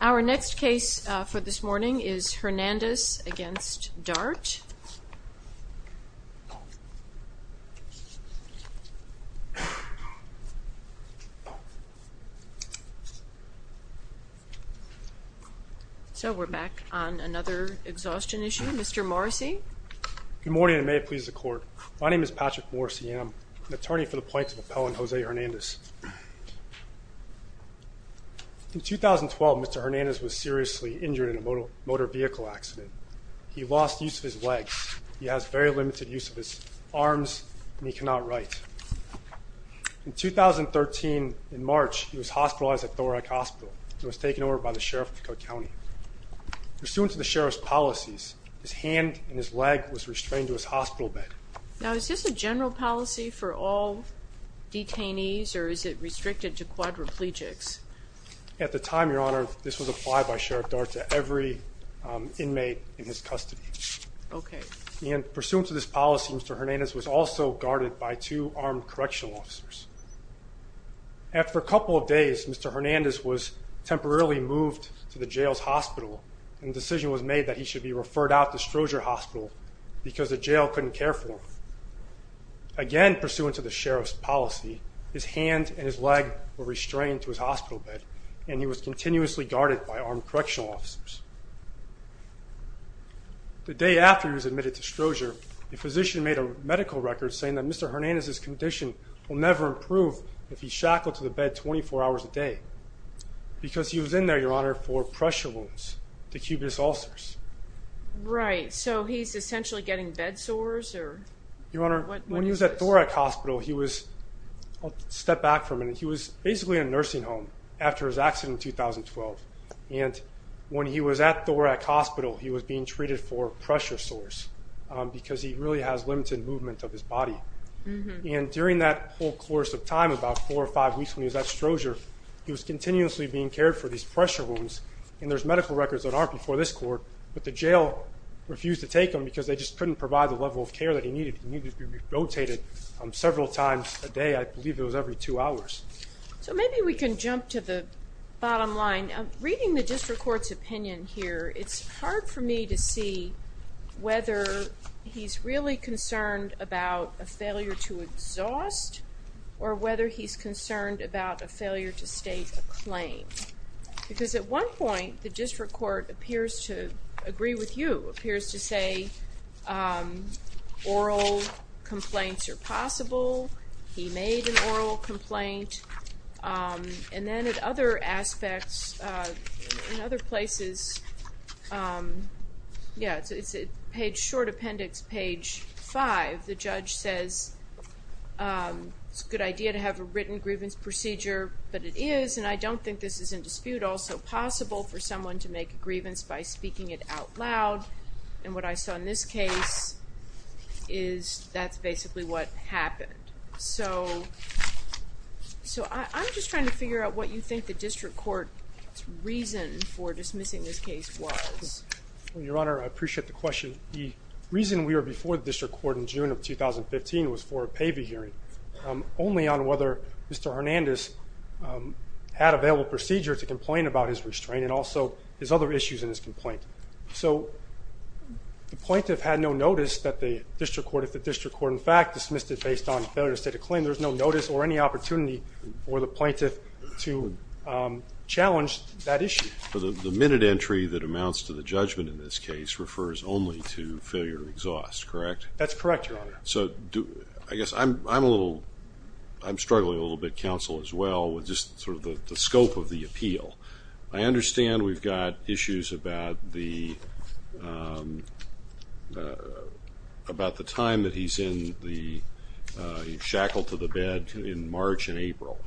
Our next case for this morning is Hernandez v. Dart. So we're back on another exhaustion issue. Mr. Morrissey. Good morning and may it please the court. My name is Patrick Morrissey and I'm an attorney for the Plaintiff Appellant Jose Hernandez. In 2012, Mr. Hernandez was seriously injured in a motor vehicle accident. He lost use of his legs. He has very limited use of his arms and he cannot write. In 2013, in March, he was hospitalized at Thorac Hospital and was taken over by the Sheriff of Cook County. Pursuant to the Sheriff's policies, his hand and his leg was restrained to his hospital bed. Now, is this a general policy for all detainees or is it restricted to quadriplegics? At the time, Your Honor, this was applied by Sheriff Dart to every inmate in his custody. Okay. And pursuant to this policy, Mr. Hernandez was also guarded by two armed correctional officers. After a couple of days, Mr. Hernandez was temporarily moved to the jail's hospital and the decision was made that he should be referred out to Strozier Hospital because the jail couldn't care for him. Again, pursuant to the Sheriff's policy, his hand and his leg were restrained to his hospital bed and he was continuously guarded by armed correctional officers. The day after he was admitted to Strozier, the physician made a medical record saying that Mr. Hernandez's condition will never improve if he's shackled to the bed 24 hours a day because he was in there, Your Honor, for pressure wounds, the cubious ulcers. Right. So, he's essentially getting bed sores or what is this? Your Honor, when he was at Thorac Hospital, he was, I'll step back for a minute, he was basically in a nursing home after his accident in 2012 and when he was at Thorac Hospital, he was being treated for pressure sores because he really has limited movement of his body. During that whole course of time, about four or five weeks when he was at Strozier, he was continuously being cared for these pressure wounds and there's medical records that aren't before this court, but the jail refused to take him because they just couldn't provide the level of care that he needed. He needed to be rotated several times a day, I believe it was every two hours. So maybe we can jump to the bottom line. Reading the district court's opinion here, it's hard for me to see whether he's really concerned about a failure to exhaust or whether he's concerned about a failure to state a claim. Because at one point, the district court appears to agree with you, appears to say oral complaints are possible, he made an oral complaint, and then at other aspects, in other places, yeah, it's page, short appendix, page five, the judge says it's a good idea to have a written grievance procedure, but it is, and I don't think this is in dispute, also possible for someone to make a grievance by speaking it out loud and what I saw in this case is that's basically what happened. So I'm just trying to figure out what you think the district court's reason for dismissing this case was. Well, Your Honor, I appreciate the question. The reason we were before the district court in June of 2015 was for a PAVI hearing, only on whether Mr. Hernandez had available procedure to complain about his restraint and also his other issues in his complaint. So the plaintiff had no notice that the district court, if the district court in fact dismissed it based on failure to state a claim, there's no notice or any opportunity for the plaintiff to challenge that issue. The minute entry that amounts to the judgment in this case refers only to failure to exhaust, correct? That's correct, Your Honor. So I guess I'm struggling a little bit, counsel, as well, with just sort of the scope of the appeal. I understand we've got issues about the time that he's shackled to the bed in March and April,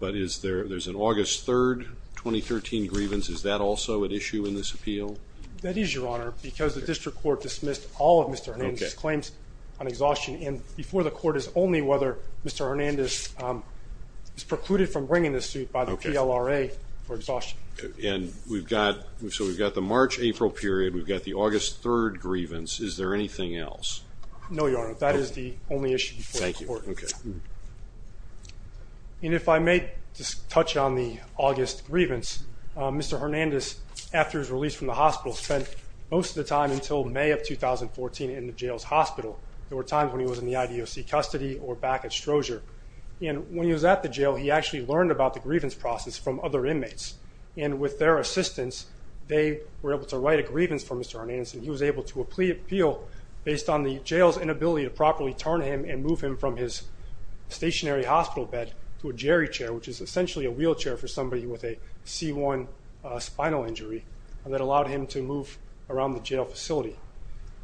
but is there, there's an August 3rd, 2013 grievance, is that also an issue in this appeal? That is, Your Honor, because the district court dismissed all of Mr. Hernandez's claims on exhaustion and before the court is only whether Mr. Hernandez is precluded from bringing this suit by the PLRA for exhaustion. And we've got, so we've got the March-April period, we've got the August 3rd grievance, is there anything else? No, Your Honor, that is the only issue before the court. And if I may just touch on the August grievance, Mr. Hernandez, after his release from the hospital, spent most of the time until May of 2014 in the jail's hospital. There were times when he was in the IDOC custody or back at Strozier. And when he was at the jail, he actually learned about the grievance process from other inmates. And with their assistance, they were able to write a grievance for Mr. Hernandez and he was able to appeal based on the jail's inability to properly turn him and move him from his stationary hospital bed to a jerry chair, which is essentially a wheelchair for somebody with a C1 spinal injury that allowed him to move around the jail facility.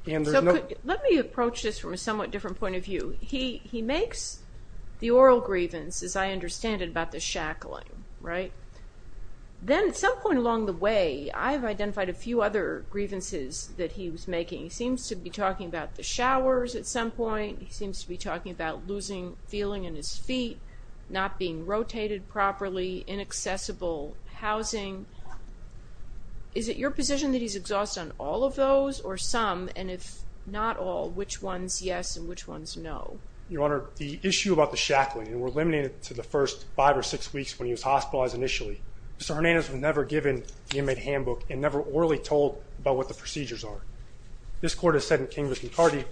And so let me approach this from a somewhat different point of view. He makes the oral grievance, as I understand it, about the shackling, right? Then at some point along the way, I've identified a few other grievances that he was making. He seems to be talking about the showers at some point, he seems to be talking about losing feeling in his feet, not being rotated properly, inaccessible housing. Is it your position that he's exhausted on all of those or some, and if not all, which ones yes and which ones no? Your Honor, the issue about the shackling, and we're limited to the first five or six weeks when he was hospitalized initially. Mr. Hernandez was never given the inmate handbook and never orally told about what the procedures are. This court has said in King v. McCarty,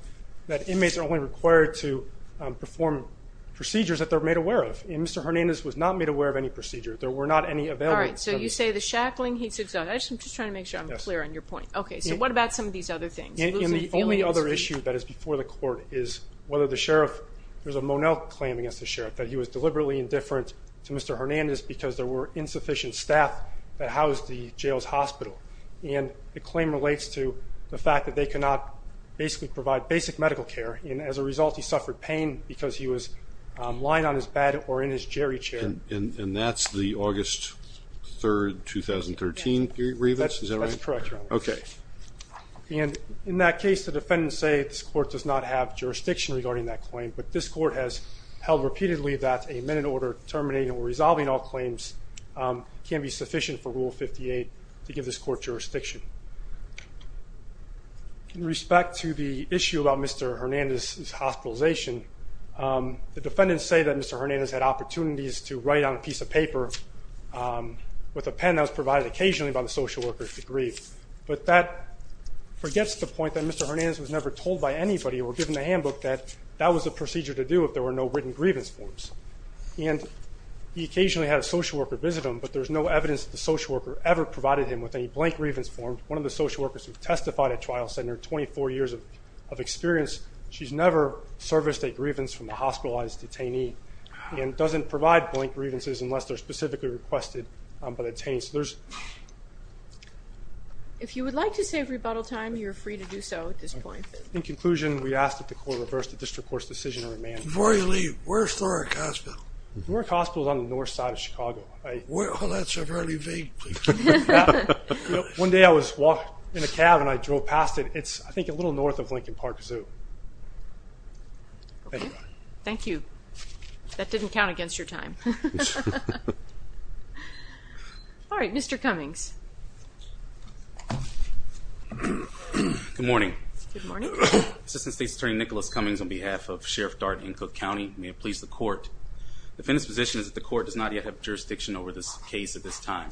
that inmates are only required to perform procedures that they're made aware of. And Mr. Hernandez was not made aware of any procedure. There were not any available- All right, so you say the shackling, he's exhausted. I'm just trying to make sure I'm clear on your point. Okay, so what about some of these other things? Losing feelings. And the only other issue that is before the court is whether the sheriff, there's a Monel claim against the sheriff that he was deliberately indifferent to Mr. Hernandez because there were insufficient staff that housed the jail's hospital. And the claim relates to the fact that they could not basically provide basic medical care and as a result he suffered pain because he was lying on his bed or in his jerry chair. And that's the August 3rd, 2013 period, is that right? That's correct, Your Honor. Okay. And in that case, the defendants say this court does not have jurisdiction regarding that claim, but this court has held repeatedly that a minute order terminating or resolving all claims can be sufficient for Rule 58 to give this court jurisdiction. In respect to the issue about Mr. Hernandez's hospitalization, the defendants say that Mr. Hernandez had opportunities to write on a piece of paper with a pen that was provided occasionally by the social worker to grieve. But that forgets the point that Mr. Hernandez was never told by anybody or given a handbook that that was the procedure to do if there were no written grievance forms. And he occasionally had a social worker visit him, but there's no evidence that the social worker ever provided him with any blank grievance form. One of the social workers who testified at trial said in her 24 years of experience, she's never serviced a grievance from a hospitalized detainee and doesn't provide blank grievances unless they're specifically requested by the detainee. So there's- If you would like to save rebuttal time, you're free to do so at this point. In conclusion, we ask that the court reverse the district court's decision to remand. Before you leave, where's Norrick Hospital? Norrick Hospital is on the north side of Chicago. Well, that's a very vague place. One day I was walking in a cab and I drove past it. It's, I think, a little north of Lincoln Park Zoo. Thank you. Thank you. That didn't count against your time. All right, Mr. Cummings. Good morning. Good morning. Assistant State's Attorney Nicholas Cummings on behalf of Sheriff Dart and Cook County, may it please the court. The defendant's position is that the court does not yet have jurisdiction over this case at this time.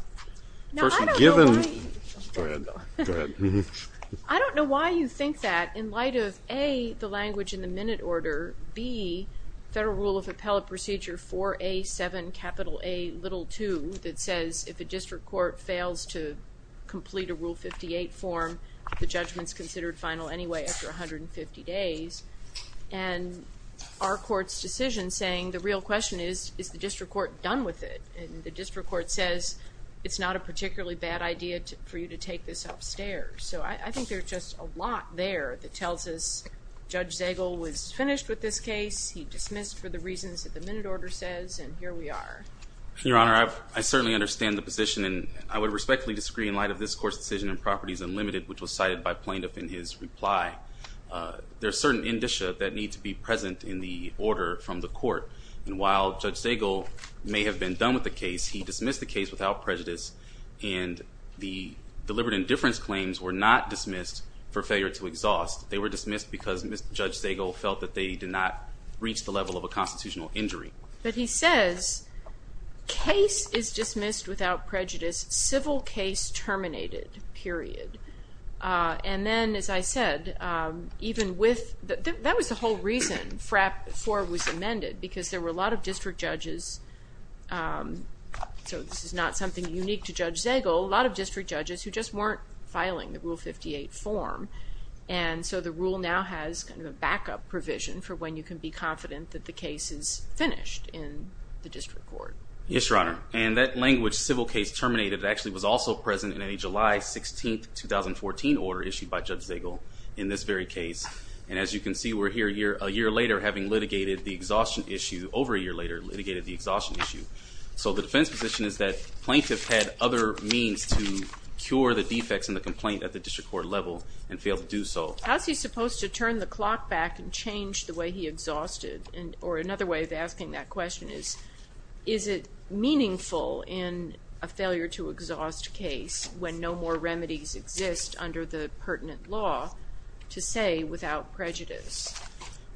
Now, I don't know why- Firstly, given- Go ahead, go ahead. I don't know why you think that in light of, A, the language in the minute order, B, Federal Rule of Appellate Procedure 4A7 capital A little 2 that says if a district court fails to complete a Rule 58 form, the judgment's considered final anyway after 150 days, and our court's decision saying the real question is, is the district court done with it? And the district court says it's not a particularly bad idea for you to take this upstairs. So I think there's just a lot there that tells us Judge Zagel was finished with this case, he dismissed for the reasons that the minute order says, and here we are. Your Honor, I certainly understand the position, and I would respectfully disagree in light of this court's decision in Properties Unlimited, which was cited by plaintiff in his reply. There are certain indicia that need to be present in the order from the court. And while Judge Zagel may have been done with the case, he dismissed the case without prejudice, and the deliberate indifference claims were not dismissed for failure to exhaust. They were dismissed because Judge Zagel felt that they did not reach the level of a constitutional injury. But he says, case is dismissed without prejudice, civil case terminated, period. And then, as I said, even with, that was the whole reason FRAP 4 was amended, because there were a lot of district judges, so this is not something unique to Judge Zagel, a lot of district judges who just weren't filing the Rule 58 form. And so the rule now has kind of a backup provision for when you can be confident that the case is finished in the district court. Yes, Your Honor. And that language, civil case terminated, actually was also present in a July 16, 2014 order issued by Judge Zagel in this very case. And as you can see, we're here a year later having litigated the exhaustion issue, over a year later litigated the exhaustion issue. So the defense position is that plaintiff had other means to cure the defects in the complaint at the district court level and failed to do so. How's he supposed to turn the clock back and change the way he exhausted? Or another way of asking that question is, is it meaningful in a failure to exhaust case when no more remedies exist under the pertinent law to say without prejudice?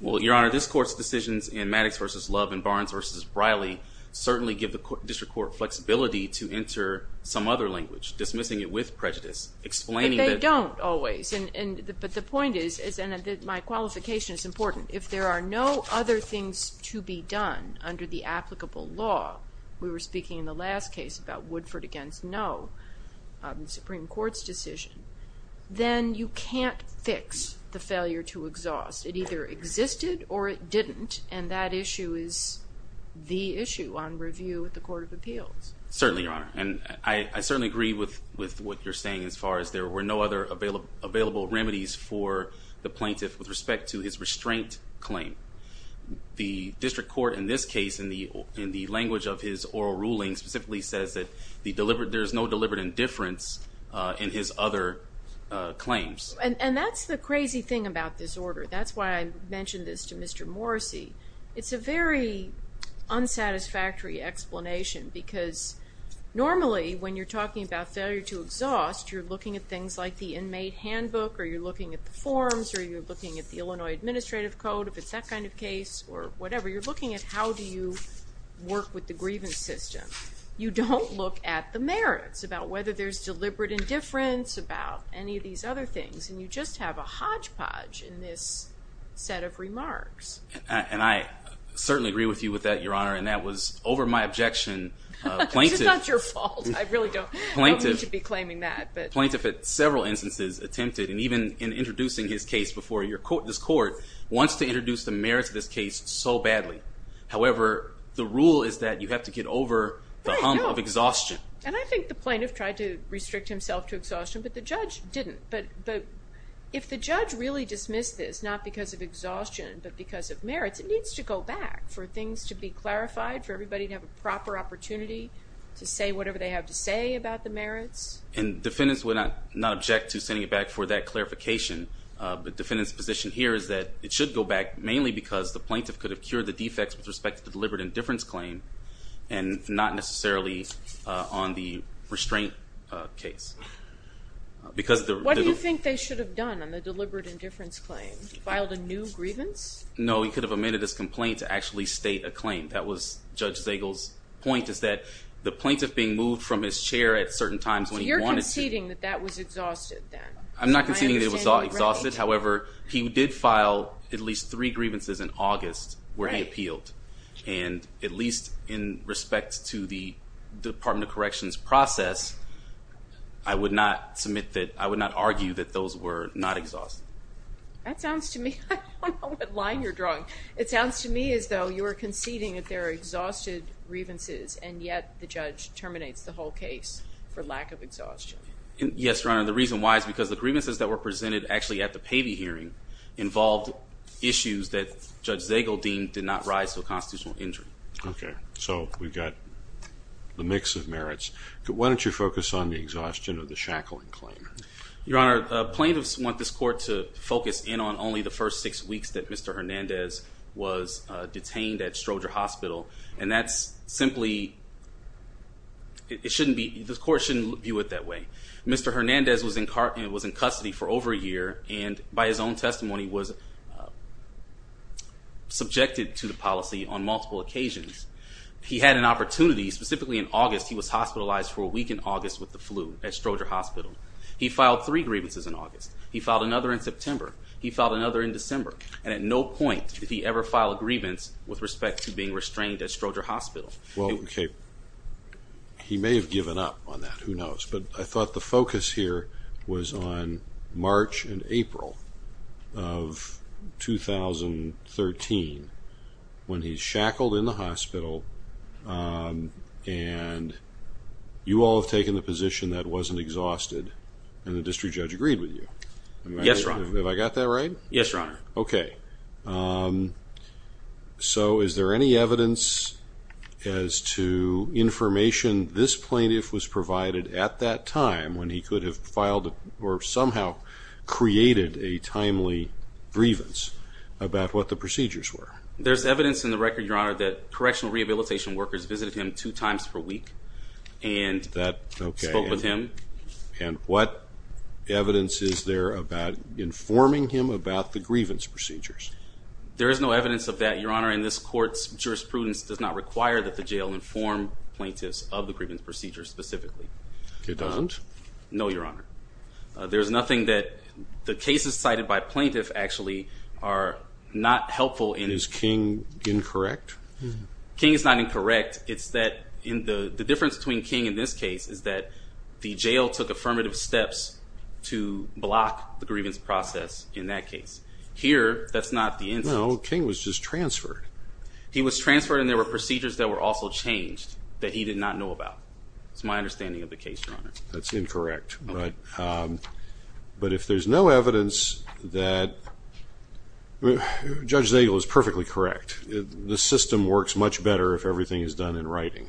Well, Your Honor, this court's decisions in Maddox v. Love and Barnes v. Briley certainly give the district court flexibility to enter some other language. Dismissing it with prejudice. Explaining that- But they don't always. And, and, but the point is, is, and my qualification is important. If there are no other things to be done under the applicable law, we were speaking in the last case about Woodford against No, Supreme Court's decision. Then you can't fix the failure to exhaust. It either existed or it didn't. And that issue is the issue on review with the Court of Appeals. Certainly, Your Honor. And I, I certainly agree with, with what you're saying as far as there were no other available, available remedies for the plaintiff with respect to his restraint claim. The district court in this case in the, in the language of his oral ruling specifically says that the deliberate, there's no deliberate indifference in his other claims. And, and that's the crazy thing about this order. That's why I mentioned this to Mr. Morrissey. It's a very unsatisfactory explanation because normally when you're talking about failure to exhaust, you're looking at things like the inmate handbook, or you're looking at the forms, or you're looking at the Illinois Administrative Code, if it's that kind of case, or whatever. You're looking at how do you work with the grievance system. You don't look at the merits, about whether there's deliberate indifference, about any of these other things. And you just have a hodgepodge in this set of remarks. And I certainly agree with you with that, Your Honor. And that was over my objection, plaintiff. It's not your fault. I really don't, I don't mean to be claiming that, but. Plaintiff at several instances attempted, and even in introducing his case before your court, this court, wants to introduce the merits of this case so badly. However, the rule is that you have to get over the hump of exhaustion. And I think the plaintiff tried to restrict himself to exhaustion, but the judge didn't. But if the judge really dismissed this, not because of exhaustion, but because of merits, it needs to go back for things to be clarified, for everybody to have a proper opportunity to say whatever they have to say about the merits. And defendants would not object to sending it back for that clarification. The defendant's position here is that it should go back mainly because the plaintiff could have cured the defects with respect to the deliberate indifference claim. And not necessarily on the restraint case. Because the- What do you think they should have done on the deliberate indifference claim? Filed a new grievance? No, he could have amended his complaint to actually state a claim. That was Judge Zagel's point, is that the plaintiff being moved from his chair at certain times when he wanted to- So you're conceding that that was exhausted then? I'm not conceding that it was all exhausted. However, he did file at least three grievances in August where he appealed. And at least in respect to the Department of Corrections process, I would not submit that, I would not argue that those were not exhausted. That sounds to me, I don't know what line you're drawing. It sounds to me as though you are conceding that there are exhausted grievances. And yet, the judge terminates the whole case for lack of exhaustion. Yes, Your Honor. The reason why is because the grievances that were presented actually at the Pavy hearing involved issues that Judge Zagel deemed did not rise to a constitutional injury. Okay. So we've got the mix of merits. Why don't you focus on the exhaustion of the shackling claim? Your Honor, plaintiffs want this court to focus in on only the first six weeks that Mr. Hernandez was detained at Stroger Hospital. And that's simply, it shouldn't be, this court shouldn't view it that way. Mr. Hernandez was in custody for over a year, and by his own testimony, was subjected to the policy on multiple occasions. He had an opportunity, specifically in August, he was hospitalized for a week in August with the flu at Stroger Hospital. He filed three grievances in August. He filed another in September. He filed another in December. And at no point did he ever file a grievance with respect to being restrained at Stroger Hospital. Well, okay, he may have given up on that. Who knows? But I thought the focus here was on March and April of 2013. When he's shackled in the hospital, and you all have taken the position that wasn't exhausted, and the district judge agreed with you. Yes, Your Honor. Have I got that right? Yes, Your Honor. Okay. So is there any evidence as to information this plaintiff was provided at that time when he could have filed or somehow created a timely grievance about what the procedures were? There's evidence in the record, Your Honor, that correctional rehabilitation workers visited him two times per week and spoke with him. And what evidence is there about informing him about the grievance procedures? There is no evidence of that, Your Honor, and this court's jurisprudence does not require that the jail inform plaintiffs of the grievance procedures specifically. It doesn't? No, Your Honor. There's nothing that the cases cited by plaintiffs actually are not helpful in. Is King incorrect? King is not incorrect. It's that the difference between King in this case is that the jail took affirmative steps to block the grievance process in that case. Here, that's not the instance. No, King was just transferred. He was transferred and there were procedures that were also changed It's my understanding of the case, Your Honor. That's incorrect, but if there's no evidence that – Judge Zagel is perfectly correct. The system works much better if everything is done in writing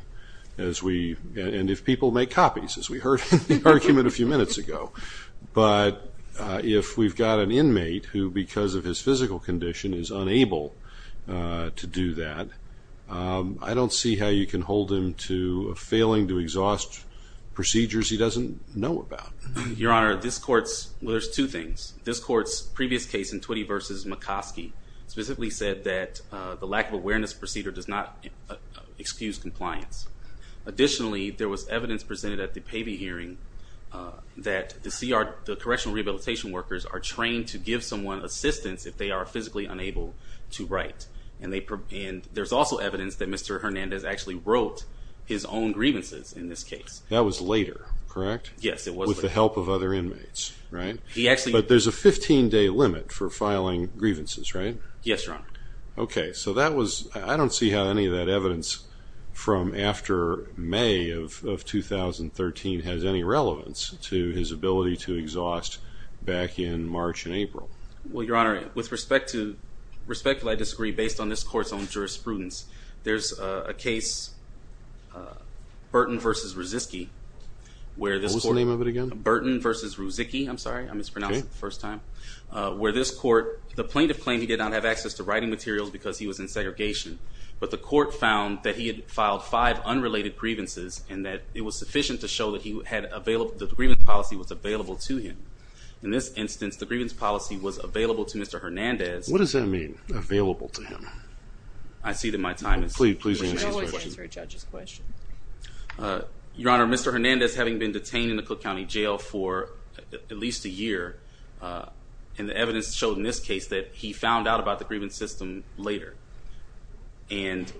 as we – and if people make copies, as we heard in the argument a few minutes ago. But if we've got an inmate who, because of his physical condition, is unable to do that, I don't see how you can hold him to failing to exhaust procedures he doesn't know about. Your Honor, this court's – well, there's two things. This court's previous case in Twitty v. McCoskey specifically said that the lack of awareness procedure does not excuse compliance. Additionally, there was evidence presented at the Pavey hearing that the correctional rehabilitation workers are trained to give someone assistance if they are physically unable to write. And there's also evidence that Mr. Hernandez actually wrote his own grievances in this case. That was later, correct? Yes, it was later. With the help of other inmates, right? He actually – But there's a 15-day limit for filing grievances, right? Yes, Your Honor. Okay, so that was – I don't see how any of that evidence from after May of 2013 has any relevance to his ability to exhaust back in March and April. Well, Your Honor, with respect to – respectfully, I disagree based on this court's own jurisprudence. There's a case, Burton v. Ruzicki, where this court – What was the name of it again? Burton v. Ruzicki. I'm sorry, I mispronounced it the first time. Where this court – the plaintiff claimed he did not have access to writing materials because he was in segregation. But the court found that he had filed five unrelated grievances and that it was sufficient to show that he had – that the grievance policy was available to him. In this instance, the grievance policy was available to Mr. Hernandez. What does that mean, available to him? I see that my time is – Please answer his question. You should always answer a judge's question. Your Honor, Mr. Hernandez, having been detained in the Cook County Jail for at least a year, and the evidence showed in this case that he found out about the grievance system later and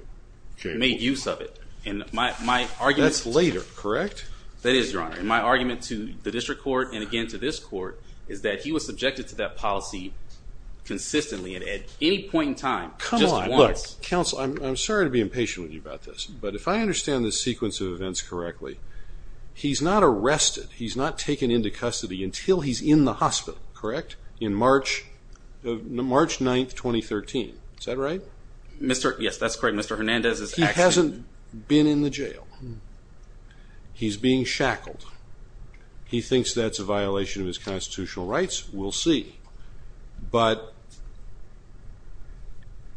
made use of it. And my argument – That's later, correct? That is, Your Honor. And my argument to the district court and again to this court is that he was subjected to that policy consistently and at any point in time, just once. Come on, look. Counsel, I'm sorry to be impatient with you about this, but if I understand this sequence of events correctly, he's not arrested, he's not taken into custody until he's in the hospital, correct? In March 9, 2013. Is that right? Mr. – yes, that's correct. Mr. Hernandez is actually – He hasn't been in the jail. He's being shackled. He thinks that's a violation of his constitutional rights. We'll see. But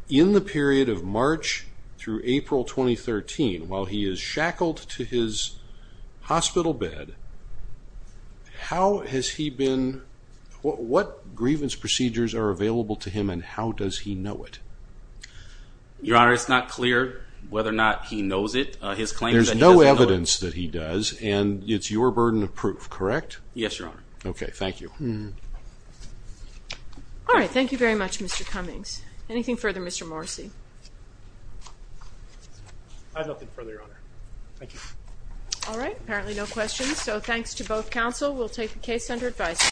in the period of March through April 2013, while he is shackled to his hospital bed, how has he been – what grievance procedures are available to him and how does he know it? Your Honor, it's not clear whether or not he knows it. There's no evidence that he does and it's your burden of proof, correct? Yes, Your Honor. Okay, thank you. All right, thank you very much, Mr. Cummings. Anything further, Mr. Morrissey? I have nothing further, Your Honor. Thank you. All right, apparently no questions. So thanks to both counsel. We'll take the case under advisory.